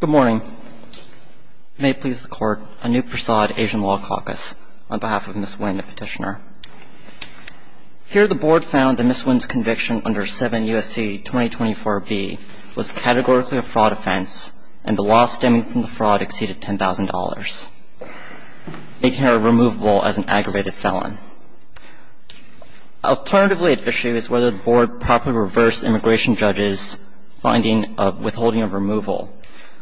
Good morning. May it please the Court, Anup Prasad, Asian Law Caucus, on behalf of Ms. Nguyen, the petitioner. Here, the Board found that Ms. Nguyen's conviction under 7 U.S.C. 2024b was categorically a fraud offense, and the loss stemming from the fraud exceeded $10,000, making her removable as an aggravated felon. Alternatively at issue is whether the Board properly reversed immigration judges' finding of withholding of removal,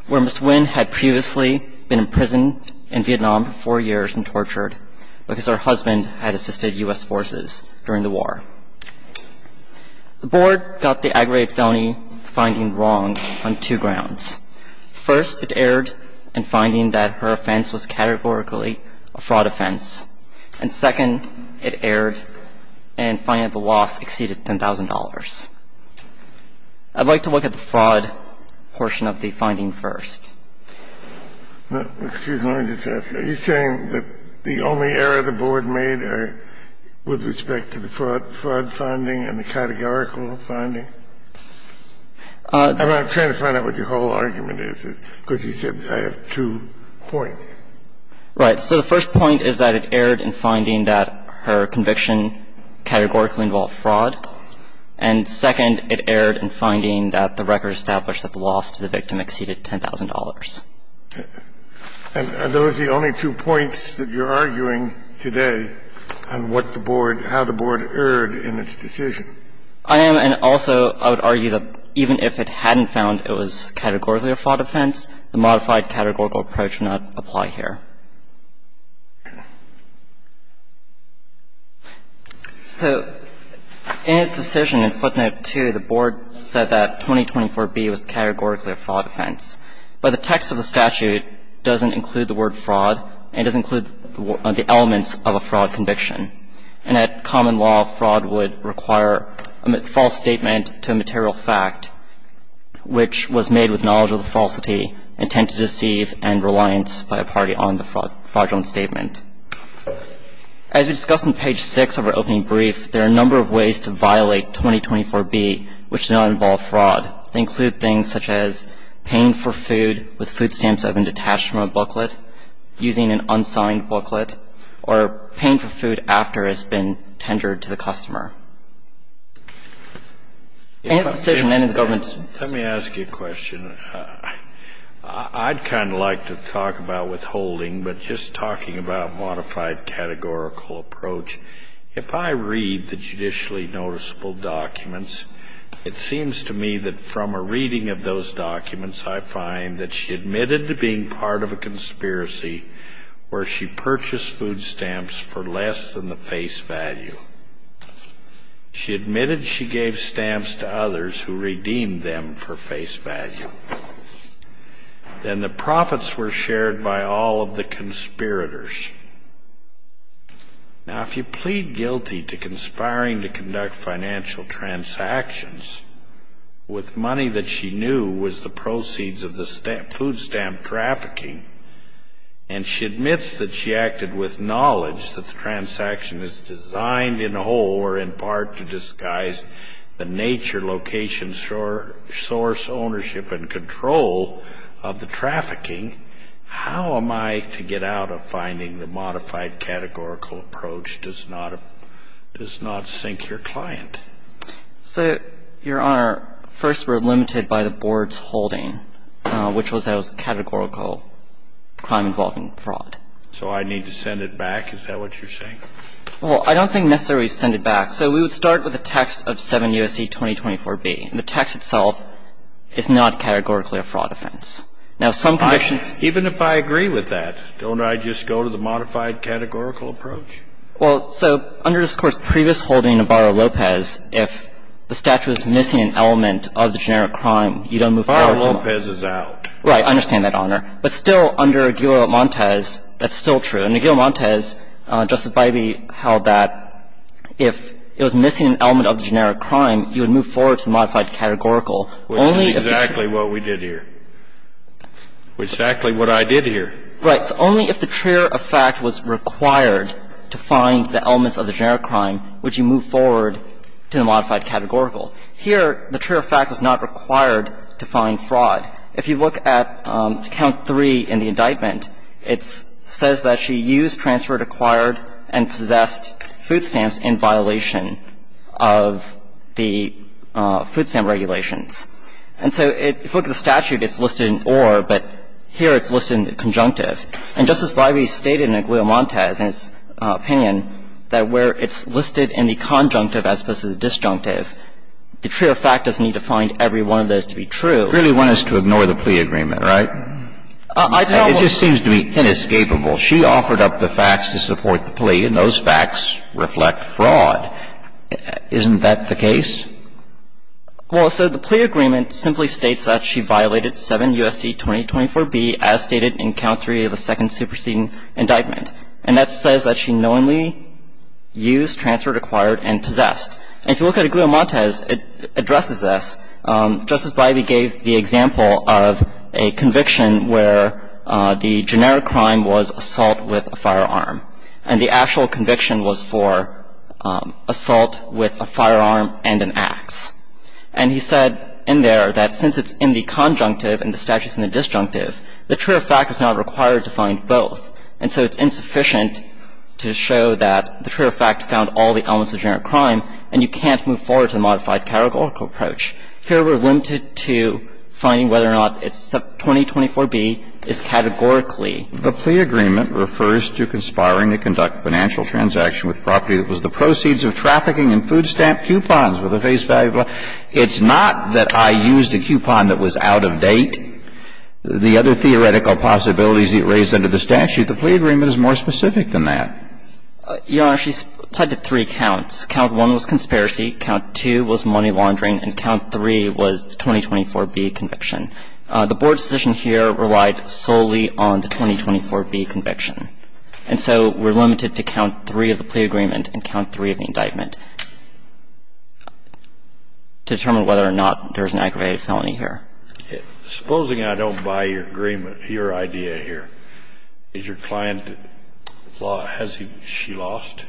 where Ms. Nguyen had previously been imprisoned in Vietnam for four years and tortured because her husband had assisted U.S. forces during the war. The Board got the aggravated felony finding wrong on two grounds. First, it erred in finding that her offense was categorically a fraud offense. And second, it erred in finding that the loss exceeded $10,000. I'd like to look at the fraud portion of the finding first. Excuse me, let me just ask. Are you saying that the only error the Board made are with respect to the fraud finding and the categorical finding? I'm trying to find out what your whole argument is, because you said I have two points. Right. So the first point is that it erred in finding that her conviction categorically involved fraud, and second, it erred in finding that the record established that the loss to the victim exceeded $10,000. And those are the only two points that you're arguing today on what the Board – how the Board erred in its decision. I am – and also I would argue that even if it hadn't found it was categorically a fraud offense, the modified categorical approach would not apply here. So in its decision in footnote 2, the Board said that 2024b was categorically a fraud offense, but the text of the statute doesn't include the word fraud. It doesn't include the elements of a fraud conviction. And at common law, fraud would require a false statement to a material fact, which was made with knowledge of the falsity, intent to deceive, and reliance by a party on the fraudulent statement. As we discussed on page 6 of our opening brief, there are a number of ways to violate 2024b which do not involve fraud. They include things such as paying for food with food stamps that have been detached from a booklet, using an unsigned booklet, or paying for food after it's been tendered to the customer. And it's a statement of the government's decision. Let me ask you a question. I'd kind of like to talk about withholding, but just talking about modified categorical approach, if I read the judicially noticeable documents, it seems to me that from a reading of those documents, I find that she admitted to being part of a conspiracy where she purchased food stamps for less than the face value. She admitted she gave stamps to others who redeemed them for face value. Then the profits were shared by all of the conspirators. Now, if you plead guilty to conspiring to conduct financial transactions with money that she knew was the proceeds of the food stamp trafficking, and she admits that she acted with knowledge that the transaction is designed in whole or in part to disguise the nature, location, source, ownership, and control of the trafficking, how am I to get out of finding the modified categorical approach does not sink your client? So, Your Honor, first we're limited by the board's holding, which was that it was a categorical crime involving fraud. So I need to send it back? Is that what you're saying? Well, I don't think necessarily send it back. So we would start with a text of 7 U.S.C. 2024b. And the text itself is not categorically a fraud offense. Now, some convictions — Even if I agree with that, don't I just go to the modified categorical approach? Well, so under this Court's previous holding of Barra-Lopez, if the statute is missing an element of the generic crime, you don't move forward — Barra-Lopez is out. Right. I understand that, Your Honor. But still, under Aguilo-Montes, that's still true. In Aguilo-Montes, Justice Bybee held that if it was missing an element of the generic crime, you would move forward to the modified categorical. Which is exactly what we did here. Which is exactly what I did here. Right. So only if the truer of fact was required to find the elements of the generic crime would you move forward to the modified categorical. Here, the truer of fact was not required to find fraud. If you look at count 3 in the indictment, it says that she used, transferred, acquired, and possessed food stamps in violation of the food stamp regulations. And so if you look at the statute, it's listed in or, but here it's listed in the conjunctive. And Justice Bybee stated in Aguilo-Montes' opinion that where it's listed in the conjunctive as opposed to the disjunctive, the truer of fact doesn't need to find every one of those to be true. You really want us to ignore the plea agreement, right? It just seems to be inescapable. She offered up the facts to support the plea, and those facts reflect fraud. Isn't that the case? Well, so the plea agreement simply states that she violated 7 U.S.C. 2024b as stated in count 3 of the second superseding indictment. And that says that she knowingly used, transferred, acquired, and possessed. And if you look at Aguilo-Montes, it addresses this. Justice Bybee gave the example of a conviction where the generic crime was assault with a firearm. And the actual conviction was for assault with a firearm and an ax. And he said in there that since it's in the conjunctive and the statute's in the disjunctive, the truer of fact is not required to find both. And so it's insufficient to show that the truer of fact found all the elements of generic crime, and you can't move forward to the modified categorical approach. Here we're limited to finding whether or not it's 2024b is categorically. The plea agreement refers to conspiring to conduct financial transaction with property that was the proceeds of trafficking and food stamp coupons with a face value of $5. It's not that I used a coupon that was out of date. The other theoretical possibilities it raised under the statute, the plea agreement is more specific than that. Your Honor, she's applied to three counts. Count 1 was conspiracy. Count 2 was money laundering. And count 3 was the 2024b conviction. The Board's decision here relied solely on the 2024b conviction. And so we're limited to count 3 of the plea agreement and count 3 of the indictment to determine whether or not there's an aggravated felony here. Supposing I don't buy your agreement, your idea here. Is your client, has she lost?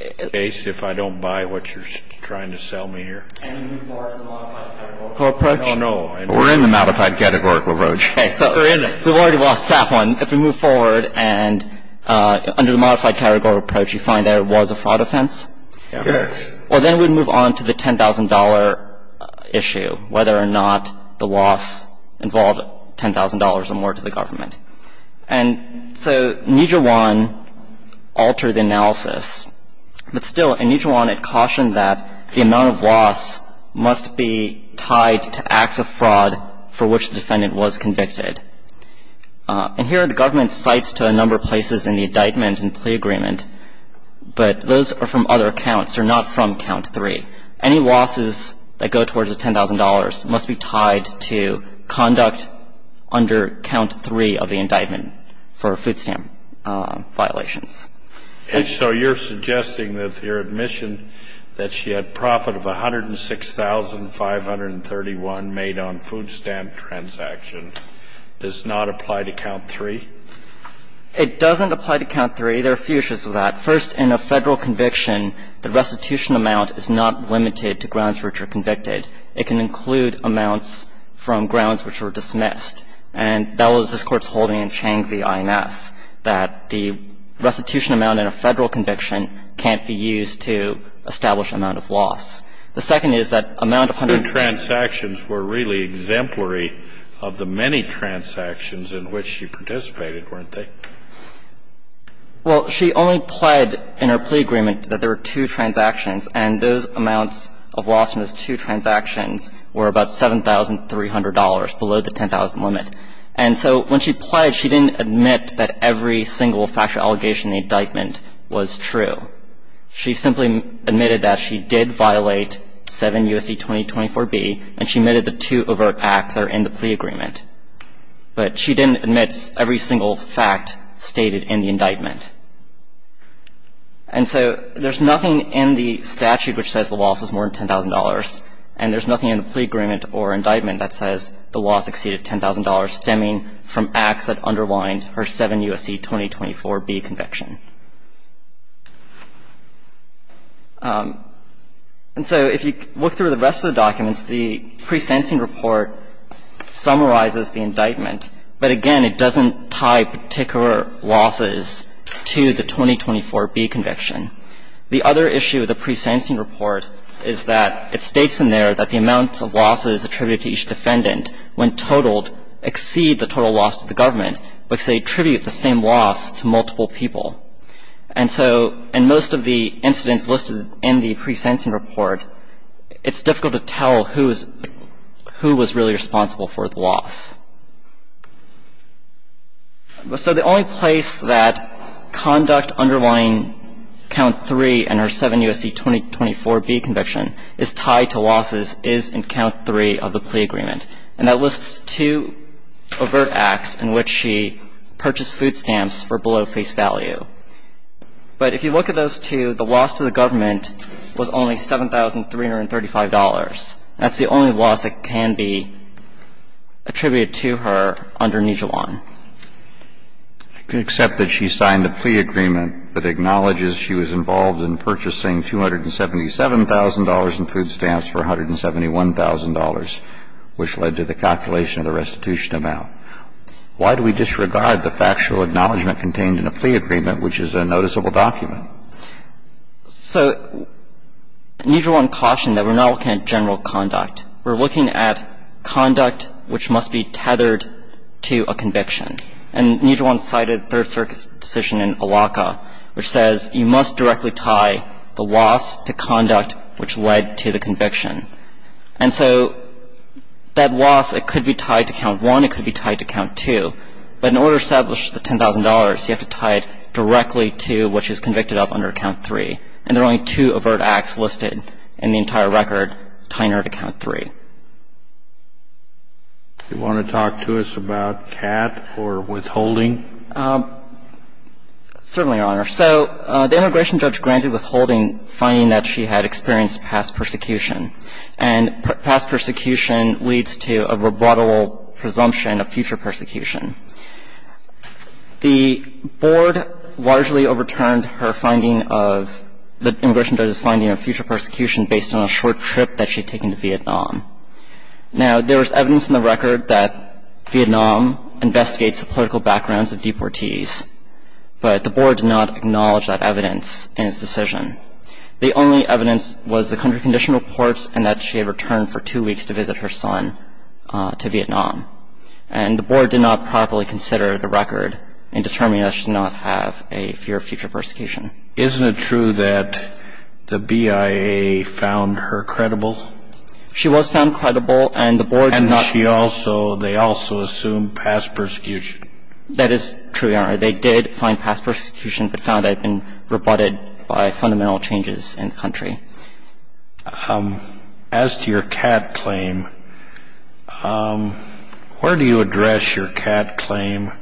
In this case, if I don't buy what you're trying to sell me here. Can we move forward to the modified categorical approach? I don't know. We're in the modified categorical approach. We're in it. We've already lost that one. If we move forward and under the modified categorical approach, you find that it was a fraud offense? Yes. Well, then we'd move on to the $10,000 issue, whether or not the loss involved is worth $10,000 or more to the government. And so Nijiwan altered the analysis. But still, in Nijiwan it cautioned that the amount of loss must be tied to acts of fraud for which the defendant was convicted. And here the government cites to a number of places in the indictment and plea agreement, but those are from other counts. They're not from count 3. Any losses that go towards the $10,000 must be tied to conduct under count 3 of the indictment for food stamp violations. And so you're suggesting that your admission that she had profit of $106,531 made on food stamp transactions does not apply to count 3? It doesn't apply to count 3. There are a few issues with that. First, in a Federal conviction, the restitution amount is not limited to grounds which are convicted. It can include amounts from grounds which are dismissed. And that was this Court's holding in Chang v. INS, that the restitution amount in a Federal conviction can't be used to establish amount of loss. The second is that amount of $106,531. Her transactions were really exemplary of the many transactions in which she participated, weren't they? Well, she only pled in her plea agreement that there were two transactions, and those amounts of loss in those two transactions were about $7,300, below the $10,000 limit. And so when she pled, she didn't admit that every single factual allegation in the indictment was true. She simply admitted that she did violate 7 U.S.C. 2024b, and she admitted the two overt acts are in the plea agreement. But she didn't admit every single fact stated in the indictment. And so there's nothing in the statute which says the loss is more than $10,000, and there's nothing in the plea agreement or indictment that says the loss exceeded $10,000, stemming from acts that underlined her 7 U.S.C. 2024b conviction. And so if you look through the rest of the documents, the pre-sensing report summarizes the indictment, but again, it doesn't tie particular losses to the 2024b conviction. The other issue with the pre-sensing report is that it states in there that the amounts of losses attributed to each defendant when totaled exceed the total loss to the government, which they attribute the same loss to multiple people. And so in most of the incidents listed in the pre-sensing report, it's difficult to tell who was really responsible for the loss. So the only place that conduct underlying Count 3 and her 7 U.S.C. 2024b conviction is tied to losses is in Count 3 of the plea agreement. And that lists two overt acts in which she purchased food stamps for below face value. But if you look at those two, the loss to the government was only $7,335. That's the only loss that can be attributed to her under Nijuan. I can accept that she signed a plea agreement that acknowledges she was involved in purchasing $277,000 in food stamps for $171,000, which led to the calculation of the restitution amount. to tell who was really responsible for the loss. Why do we disregard the factual acknowledgment contained in a plea agreement, which is a noticeable document? So Nijuan cautioned that we're not looking at general conduct. We're looking at conduct which must be tethered to a conviction. And Nijuan cited Third Circuit's decision in Awaka which says you must directly tie the loss to conduct which led to the conviction. And so that loss, it could be tied to Count 1, it could be tied to Count 2. But in order to establish the $10,000, you have to tie it directly to what she was convicted of under Count 3. And there are only two overt acts listed in the entire record tying her to Count 3. Do you want to talk to us about Catt for withholding? Certainly, Your Honor. So the immigration judge granted withholding finding that she had experienced past persecution. And past persecution leads to a rebuttal presumption of future persecution. The board largely overturned her finding of the immigration judge's finding of future persecution based on a short trip that she had taken to Vietnam. Now, there was evidence in the record that Vietnam investigates the political backgrounds of deportees, but the board did not acknowledge that evidence in its decision. The only evidence was the country condition reports and that she had returned for two weeks to visit her son to Vietnam. And the board did not properly consider the record in determining that she did not have a fear of future persecution. Isn't it true that the BIA found her credible? She was found credible, and the board did not And she also, they also assumed past persecution. That is true, Your Honor. They did find past persecution, but found that it had been rebutted by fundamental changes in the country. As to your cat claim, where do you address your cat claim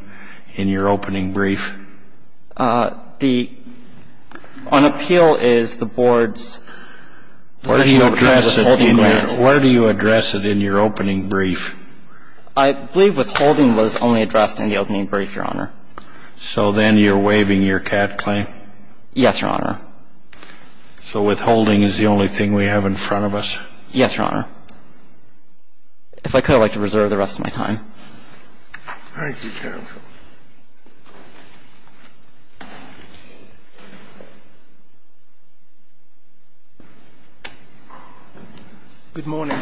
in your opening brief? The, on appeal is the board's position. Where do you address it in your opening brief? I believe withholding was only addressed in the opening brief, Your Honor. So then you're waiving your cat claim? Yes, Your Honor. So withholding is the only thing we have in front of us? Yes, Your Honor. If I could, I'd like to reserve the rest of my time. Thank you, counsel. Good morning.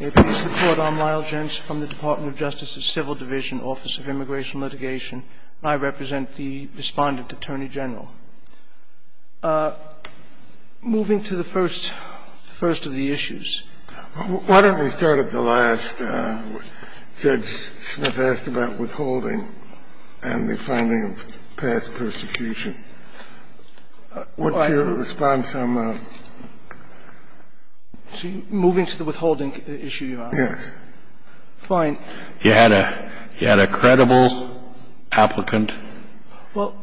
May it please the Court, I'm Lyle Gentz from the Department of Justice's Civil Division, Office of Immigration and Litigation, and I represent the Respondent Attorney General. Moving to the first of the issues. Why don't we start at the last? Judge Smith asked about withholding and the finding of past persecution. What's your response on that? Moving to the withholding issue, Your Honor? Yes. Fine. You had a credible applicant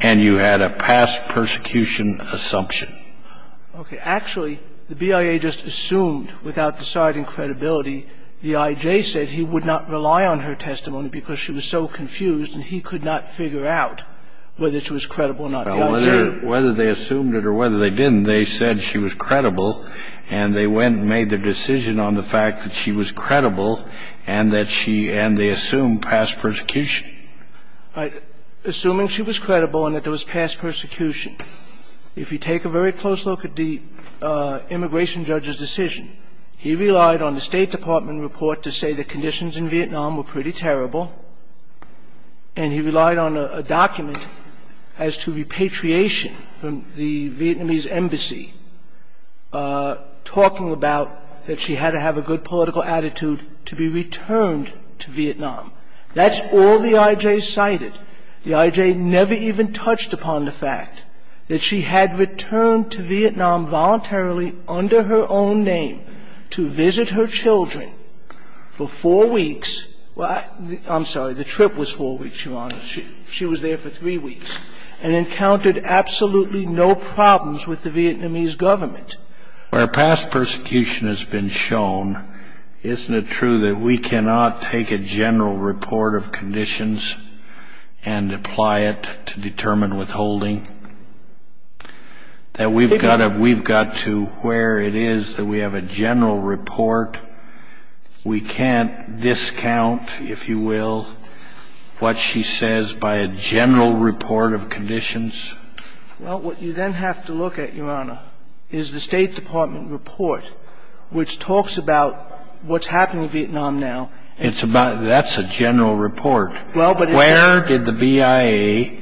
and you had a past persecution assumption. Okay. Actually, the BIA just assumed without deciding credibility, the IJ said he would not rely on her testimony because she was so confused and he could not figure out whether she was credible or not. Well, whether they assumed it or whether they didn't, they said she was credible and they went and made their decision on the fact that she was credible and that she – and they assumed past persecution. Assuming she was credible and that there was past persecution, if you take a very close look at the immigration judge's decision, he relied on the State Department report to say the conditions in Vietnam were pretty terrible and he relied on a document as to repatriation from the Vietnamese embassy talking about that she had to have a good political attitude to be returned to Vietnam. That's all the IJ cited. The IJ never even touched upon the fact that she had returned to Vietnam voluntarily under her own name to visit her children for four weeks. Well, I'm sorry. The trip was four weeks, Your Honor. She was there for three weeks and encountered absolutely no problems with the Vietnamese government. Where past persecution has been shown, isn't it true that we cannot take a general report of conditions and apply it to determine withholding? That we've got to – where it is that we have a general report, we can't discount, if you will, what she says by a general report of conditions. Well, what you then have to look at, Your Honor, is the State Department report which talks about what's happening in Vietnam now. It's about – that's a general report. Well, but it's a – Where did the BIA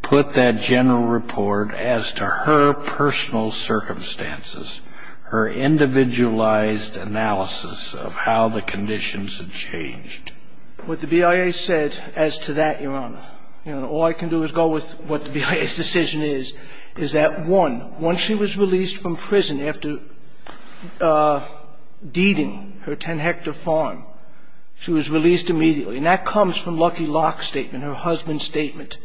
put that general report as to her personal circumstances, her individualized analysis of how the conditions had changed? What the BIA said as to that, Your Honor, all I can do is go with what the BIA's decision is, is that, one, once she was released from prison after deeding her 10-hectare farm, she was released immediately. And that comes from Lucky Locke's statement, her husband's statement.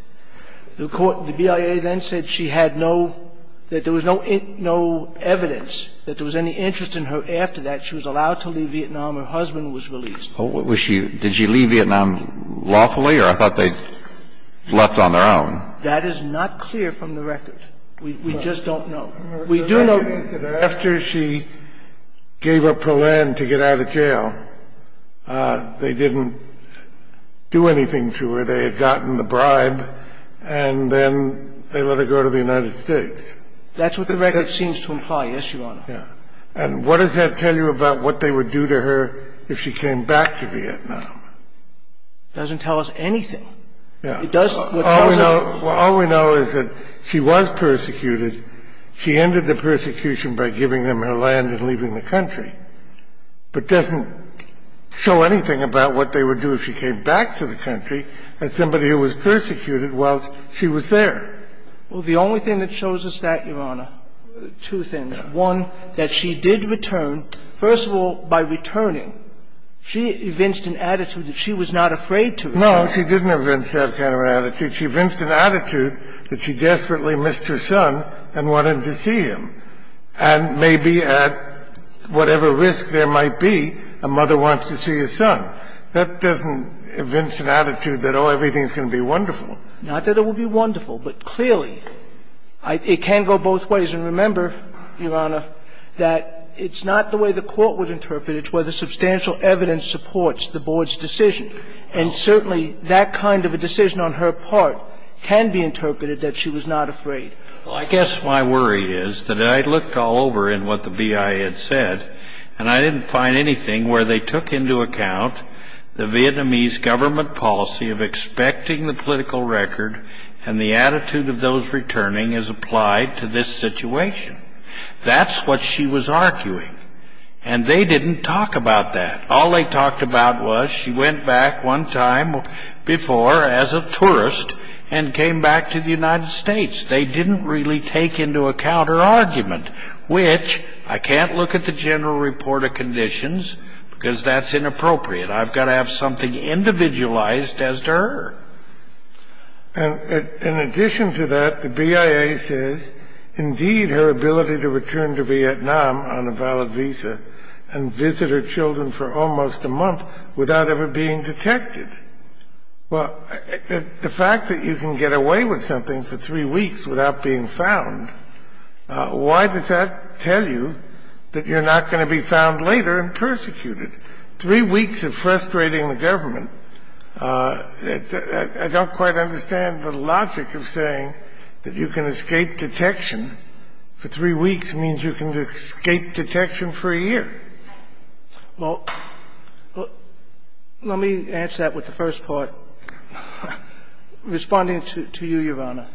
The BIA then said she had no – that there was no evidence that there was any interest in her after that. She was allowed to leave Vietnam. Her husband was released. Was she – did she leave Vietnam lawfully? Or I thought they left on their own. That is not clear from the record. We just don't know. We do know – After she gave up her land to get out of jail, they didn't do anything to her. They just told us that she was being persecuted, that she was being persecuted after they had gotten the bribe, and then they let her go to the United States. That's what the record seems to imply, yes, Your Honor. Yes. And what does that tell you about what they would do to her if she came back to Vietnam? It doesn't tell us anything. It does – All we know is that she was persecuted. She ended the persecution by giving them her land and leaving the country. But it doesn't show anything about what they would do if she came back to the country as somebody who was persecuted while she was there. Well, the only thing that shows us that, Your Honor, two things. One, that she did return. First of all, by returning, she evinced an attitude that she was not afraid to return. Well, no, she didn't evince that kind of attitude. She evinced an attitude that she desperately missed her son and wanted to see him. And maybe at whatever risk there might be, a mother wants to see her son. That doesn't evince an attitude that, oh, everything is going to be wonderful. Not that it will be wonderful, but clearly it can go both ways. And remember, Your Honor, that it's not the way the Court would interpret it. It's whether substantial evidence supports the Board's decision. And certainly that kind of a decision on her part can be interpreted that she was not afraid. Well, I guess my worry is that I looked all over in what the BIA had said, and I didn't find anything where they took into account the Vietnamese government policy of expecting the political record and the attitude of those returning as applied to this situation. That's what she was arguing. And they didn't talk about that. All they talked about was she went back one time before as a tourist and came back to the United States. They didn't really take into account her argument, which I can't look at the general report of conditions because that's inappropriate. I've got to have something individualized as to her. And in addition to that, the BIA says, Well, the fact that you can get away with something for three weeks without being found, why does that tell you that you're not going to be found later and persecuted? Three weeks of frustrating the government. I don't quite understand the logic of saying that you can escape detection for three weeks means you can escape detection for a year. Well, let me answer that with the first part. Responding to you, Your Honor,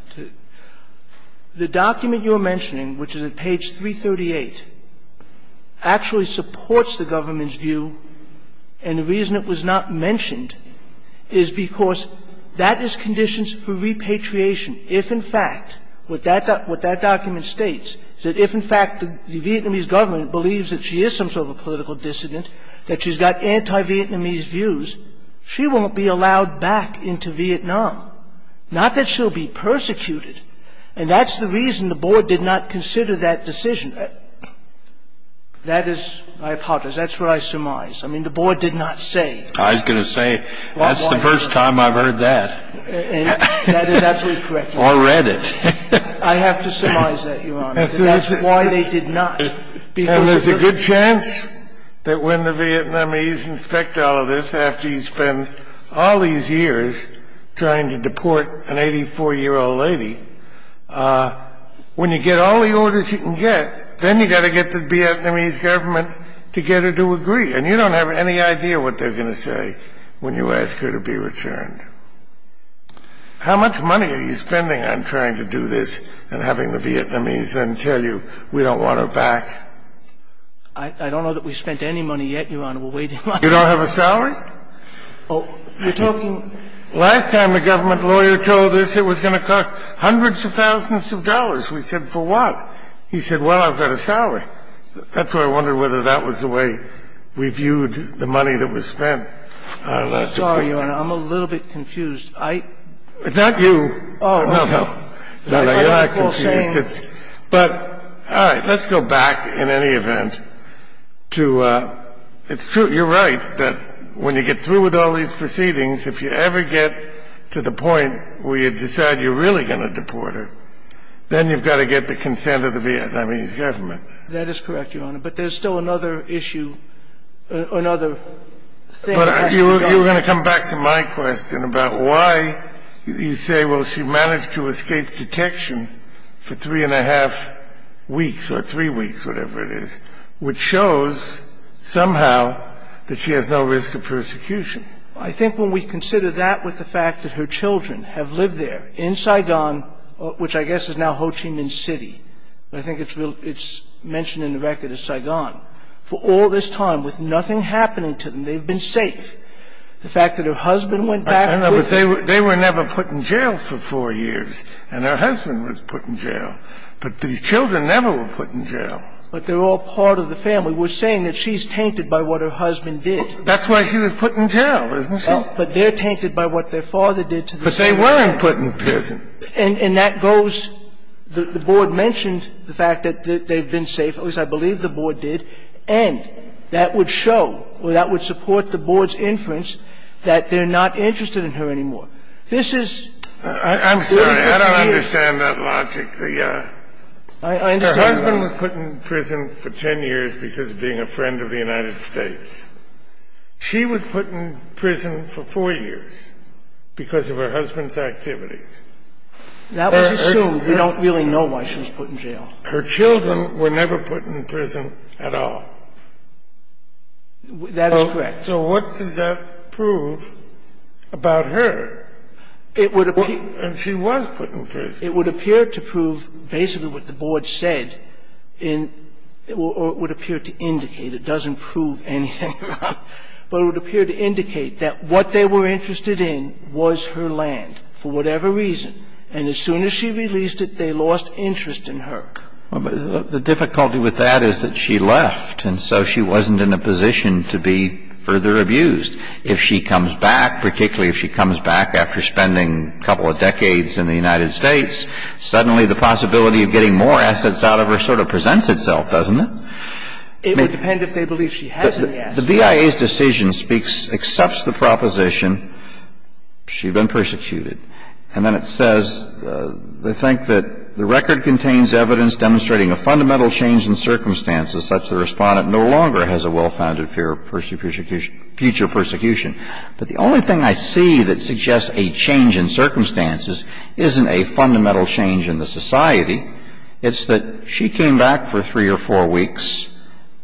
the document you're mentioning, which is at page 338, actually supports the government's view. And the reason it was not mentioned is because that is conditions for repatriation. If, in fact, what that document states is that if, in fact, the Vietnamese government believes that she is some sort of a political dissident, that she's got anti-Vietnamese views, she won't be allowed back into Vietnam, not that she'll be persecuted. And that's the reason the Board did not consider that decision. That is my hypothesis. That's what I surmise. I mean, the Board did not say. I was going to say, that's the first time I've heard that. And that is absolutely correct, Your Honor. Already. I have to surmise that, Your Honor. And that's why they did not. And there's a good chance that when the Vietnamese inspect all of this, after you spend all these years trying to deport an 84-year-old lady, when you get all the orders you can get, then you've got to get the Vietnamese government to get her to agree. And you don't have any idea what they're going to say when you ask her to be returned. How much money are you spending on trying to do this and having the Vietnamese then tell you, we don't want her back? I don't know that we've spent any money yet, Your Honor. We're waiting on it. You don't have a salary? Oh, you're talking. Last time the government lawyer told us it was going to cost hundreds of thousands of dollars. We said, for what? He said, well, I've got a salary. That's why I wondered whether that was the way we viewed the money that was spent. Sorry, Your Honor. I'm a little bit confused. Not you. Oh. No, no. I'm not confused. But all right. Let's go back, in any event, to it's true. You're right that when you get through with all these proceedings, if you ever get to the point where you decide you're really going to deport her, then you've got to get the consent of the Vietnamese government. That is correct, Your Honor. But there's still another issue, another thing. But you were going to come back to my question about why you say, well, she managed to escape detection for three and a half weeks or three weeks, whatever it is, which shows somehow that she has no risk of persecution. I think when we consider that with the fact that her children have lived there in Saigon, which I guess is now Ho Chi Minh City. I think it's mentioned in the record as Saigon. For all this time, with nothing happening to them, they've been safe. The fact that her husband went back with her. They were never put in jail for four years, and her husband was put in jail. But these children never were put in jail. But they're all part of the family. We're saying that she's tainted by what her husband did. That's why she was put in jail, isn't she? But they're tainted by what their father did to the same extent. But they weren't put in prison. And that goes, the board mentioned the fact that they've been safe, at least I believe the board did, and that would show or that would support the board's inference that they're not interested in her anymore. This is three and a half years. I'm sorry. I don't understand that logic. Her husband was put in prison for 10 years because of being a friend of the United States. She was put in prison for four years because of her husband's activities. That was assumed. We don't really know why she was put in jail. Her children were never put in prison at all. That is correct. So what does that prove about her? It would appear to prove basically what the board said, or it would appear to indicate. It doesn't prove anything, but it would appear to indicate that what they were interested in was her land for whatever reason. And as soon as she released it, they lost interest in her. Well, but the difficulty with that is that she left, and so she wasn't in a position to be further abused. If she comes back, particularly if she comes back after spending a couple of decades in the United States, suddenly the possibility of getting more assets out of her sort of presents itself, doesn't it? It would depend if they believe she has any assets. The BIA's decision speaks, accepts the proposition she'd been persecuted. And then it says, they think that the record contains evidence demonstrating a fundamental change in circumstances such that the Respondent no longer has a well-founded future persecution. But the only thing I see that suggests a change in circumstances isn't a fundamental change in the society. It's that she came back for three or four weeks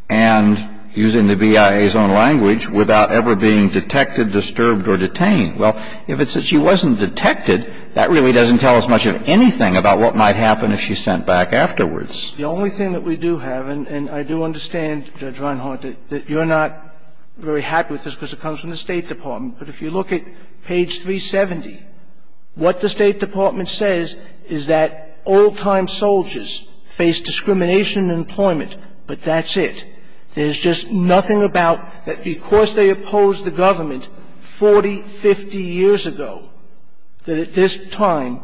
and, using the BIA's own language, without ever being detected, disturbed, or detained. Well, if it's that she wasn't detected, that really doesn't tell us much of anything about what might happen if she's sent back afterwards. The only thing that we do have, and I do understand, Judge Reinhart, that you're not very happy with this because it comes from the State Department. But if you look at page 370, what the State Department says is that old-time soldiers face discrimination in employment, but that's it. There's just nothing about that because they opposed the government 40, 50 years ago, that at this time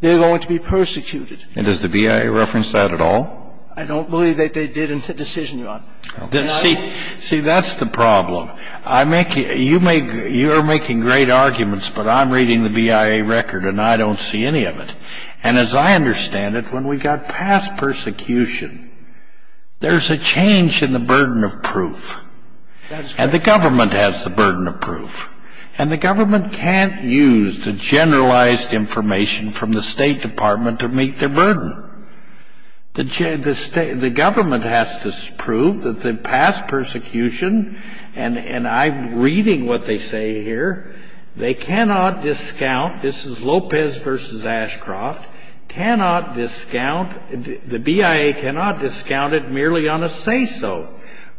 they're going to be persecuted. And does the BIA reference that at all? I don't believe that they did in the decision, Your Honor. See, that's the problem. You're making great arguments, but I'm reading the BIA record, and I don't see any of it. And as I understand it, when we got past persecution, there's a change in the burden of proof. And the government has the burden of proof. And the government can't use the generalized information from the State Department to meet their burden. The government has to prove that the past persecution, and I'm reading what they say here, they cannot discount, this is Lopez versus Ashcroft, cannot discount, the BIA cannot discount it merely on a say-so.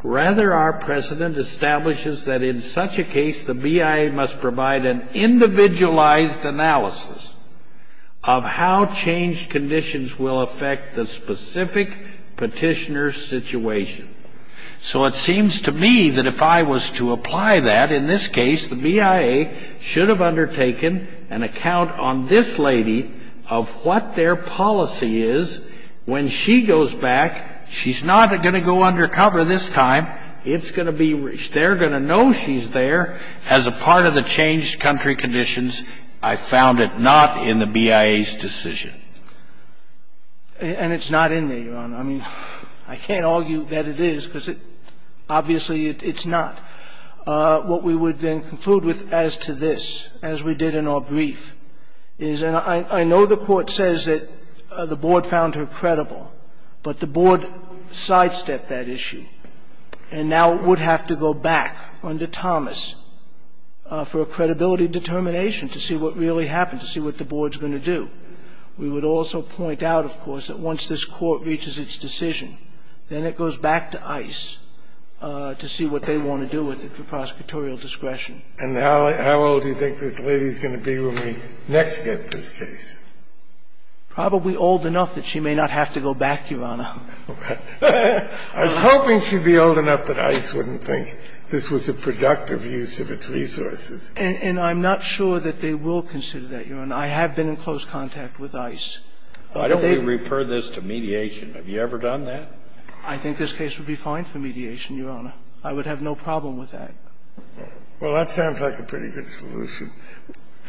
Rather, our president establishes that in such a case, the BIA must provide an account on this lady of what their policy is. So it seems to me that if I was to apply that, in this case, the BIA should have undertaken an account on this lady of what their policy is. When she goes back, she's not going to go undercover this time. It's going to be, they're going to know she's there. As a part of the changed country conditions, I found it not in the BIA's decision. And it's not in there, Your Honor. I mean, I can't argue that it is, because obviously it's not. What we would then conclude with as to this, as we did in our brief, is, and I know the Court says that the Board found her credible, but the Board sidestepped that issue. And now it would have to go back under Thomas for a credibility determination to see what really happened, to see what the Board's going to do. We would also point out, of course, that once this Court reaches its decision, then it goes back to ICE to see what they want to do with it for prosecutorial discretion. And how old do you think this lady is going to be when we next get this case? Probably old enough that she may not have to go back, Your Honor. I was hoping she'd be old enough that ICE wouldn't think this was a productive use of its resources. And I'm not sure that they will consider that, Your Honor. I have been in close contact with ICE. Why don't we refer this to mediation? Have you ever done that? I think this case would be fine for mediation, Your Honor. I would have no problem with that. Well, that sounds like a pretty good solution,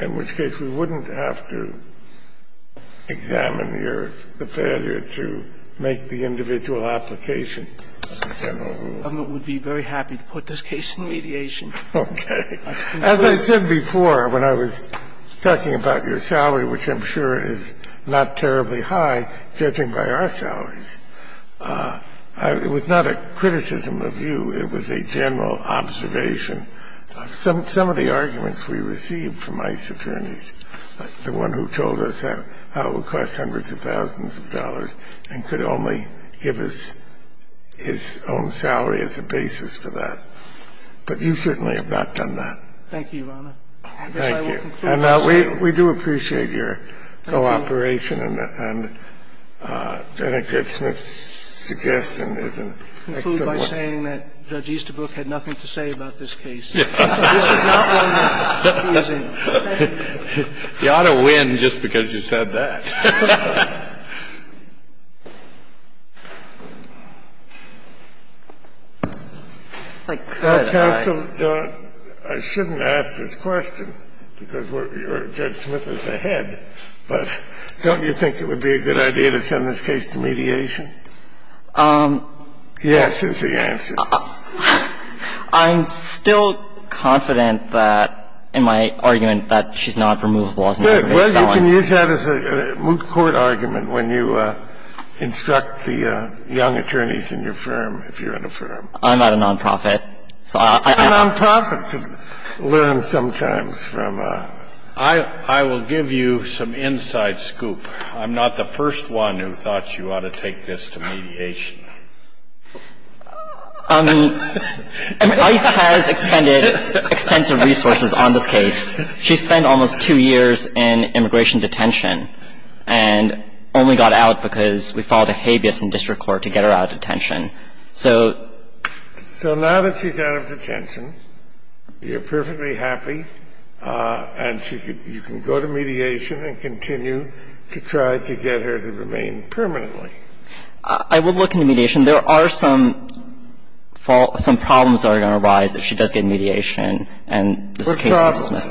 in which case we wouldn't have to examine the failure to make the individual application. I would be very happy to put this case in mediation. Okay. As I said before, when I was talking about your salary, which I'm sure is not terribly high, judging by our salaries, it was not a criticism of you. It was a general observation. Some of the arguments we received from ICE attorneys, the one who told us how it would cost hundreds of thousands of dollars and could only give us his own salary as a basis for that, but you certainly have not done that. Thank you, Your Honor. Thank you. And we do appreciate your cooperation. And Jennifer Smith's suggestion is an excellent one. I conclude by saying that Judge Easterbrook had nothing to say about this case. This is not one that he is in. You ought to win just because you said that. Counsel, I shouldn't ask this question, because Judge Smith is ahead, but don't you think it would be a good idea to send this case to mediation? Yes is the answer. I'm still confident that, in my argument, that she's not removable as an aggravated felony. Well, you can use that as a moot court argument when you instruct the young attorneys in your firm, if you're in a firm. I'm not a nonprofit. I'm not a nonprofit. Learn sometimes from her. I will give you some inside scoop. I'm not the first one who thought you ought to take this to mediation. ICE has expended extensive resources on this case. She spent almost two years in immigration detention and only got out because we filed a habeas in district court to get her out of detention. So now that she's out of detention, you're perfectly happy and you can go to mediation and continue to try to get her to remain permanently. I would look into mediation. There are some problems that are going to arise if she does get mediation and this case is dismissed.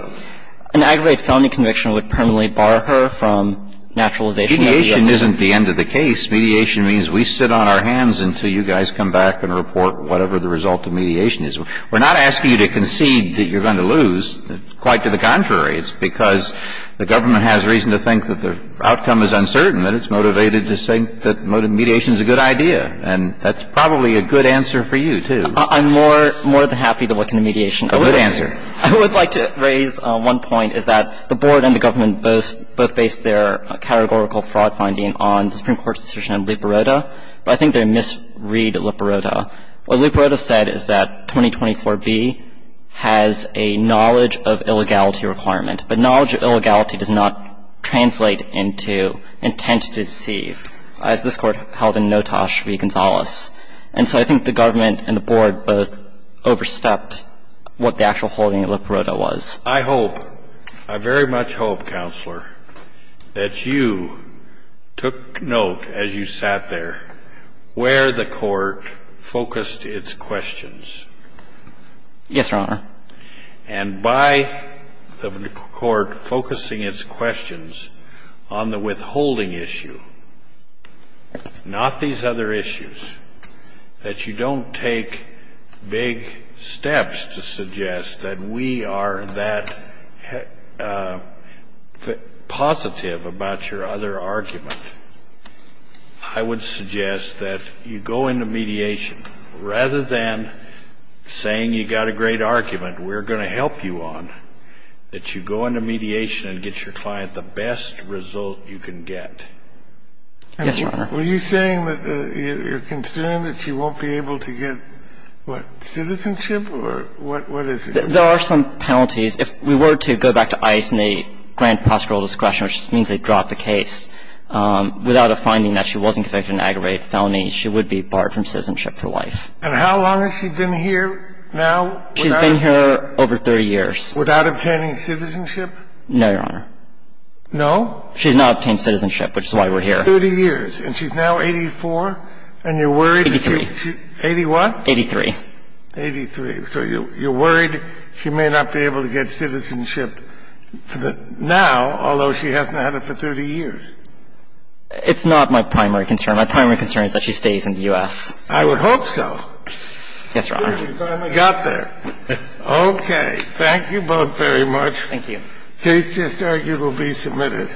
An aggravated felony conviction would permanently bar her from naturalization of the SSN. Mediation isn't the end of the case. Mediation means we sit on our hands until you guys come back and report whatever the result of mediation is. We're not asking you to concede that you're going to lose. Quite to the contrary. It's because the government has reason to think that the outcome is uncertain and it's motivated to think that mediation is a good idea. And that's probably a good answer for you, too. I'm more than happy to look into mediation. A good answer. I would like to raise one point, is that the Board and the government both base their categorical fraud finding on the Supreme Court's decision on Liparota. But I think they misread Liparota. What Liparota said is that 2024b has a knowledge of illegality requirement, but knowledge of illegality does not translate into intent to deceive, as this Court held in Notas v. Gonzales. And so I think the government and the Board both overstepped what the actual holding of Liparota was. I hope, I very much hope, Counselor, that you took note as you sat there where the Court focused its questions. Yes, Your Honor. And by the Court focusing its questions on the withholding issue, not these other issues, that you don't take big steps to suggest that we are that positive about your other argument, I would suggest that you go into mediation. Rather than saying you got a great argument, we're going to help you on, that you go into mediation and get your client the best result you can get. Yes, Your Honor. Were you saying that you're concerned that she won't be able to get, what, citizenship, or what is it? There are some penalties. If we were to go back to ICE and they grant prosecutorial discretion, which means they drop the case, without a finding that she wasn't convicted of an aggravated felony, she would be barred from citizenship for life. And how long has she been here now? She's been here over 30 years. Without obtaining citizenship? No, Your Honor. No? She's not obtained citizenship, which is why we're here. 30 years. And she's now 84? And you're worried that she's... 83. 81? 83. 83. So you're worried she may not be able to get citizenship now, although she hasn't had it for 30 years? It's not my primary concern. My primary concern is that she stays in the U.S. I would hope so. Yes, Your Honor. Good. You finally got there. Okay. Thank you both very much. Thank you. The case just argued will be submitted.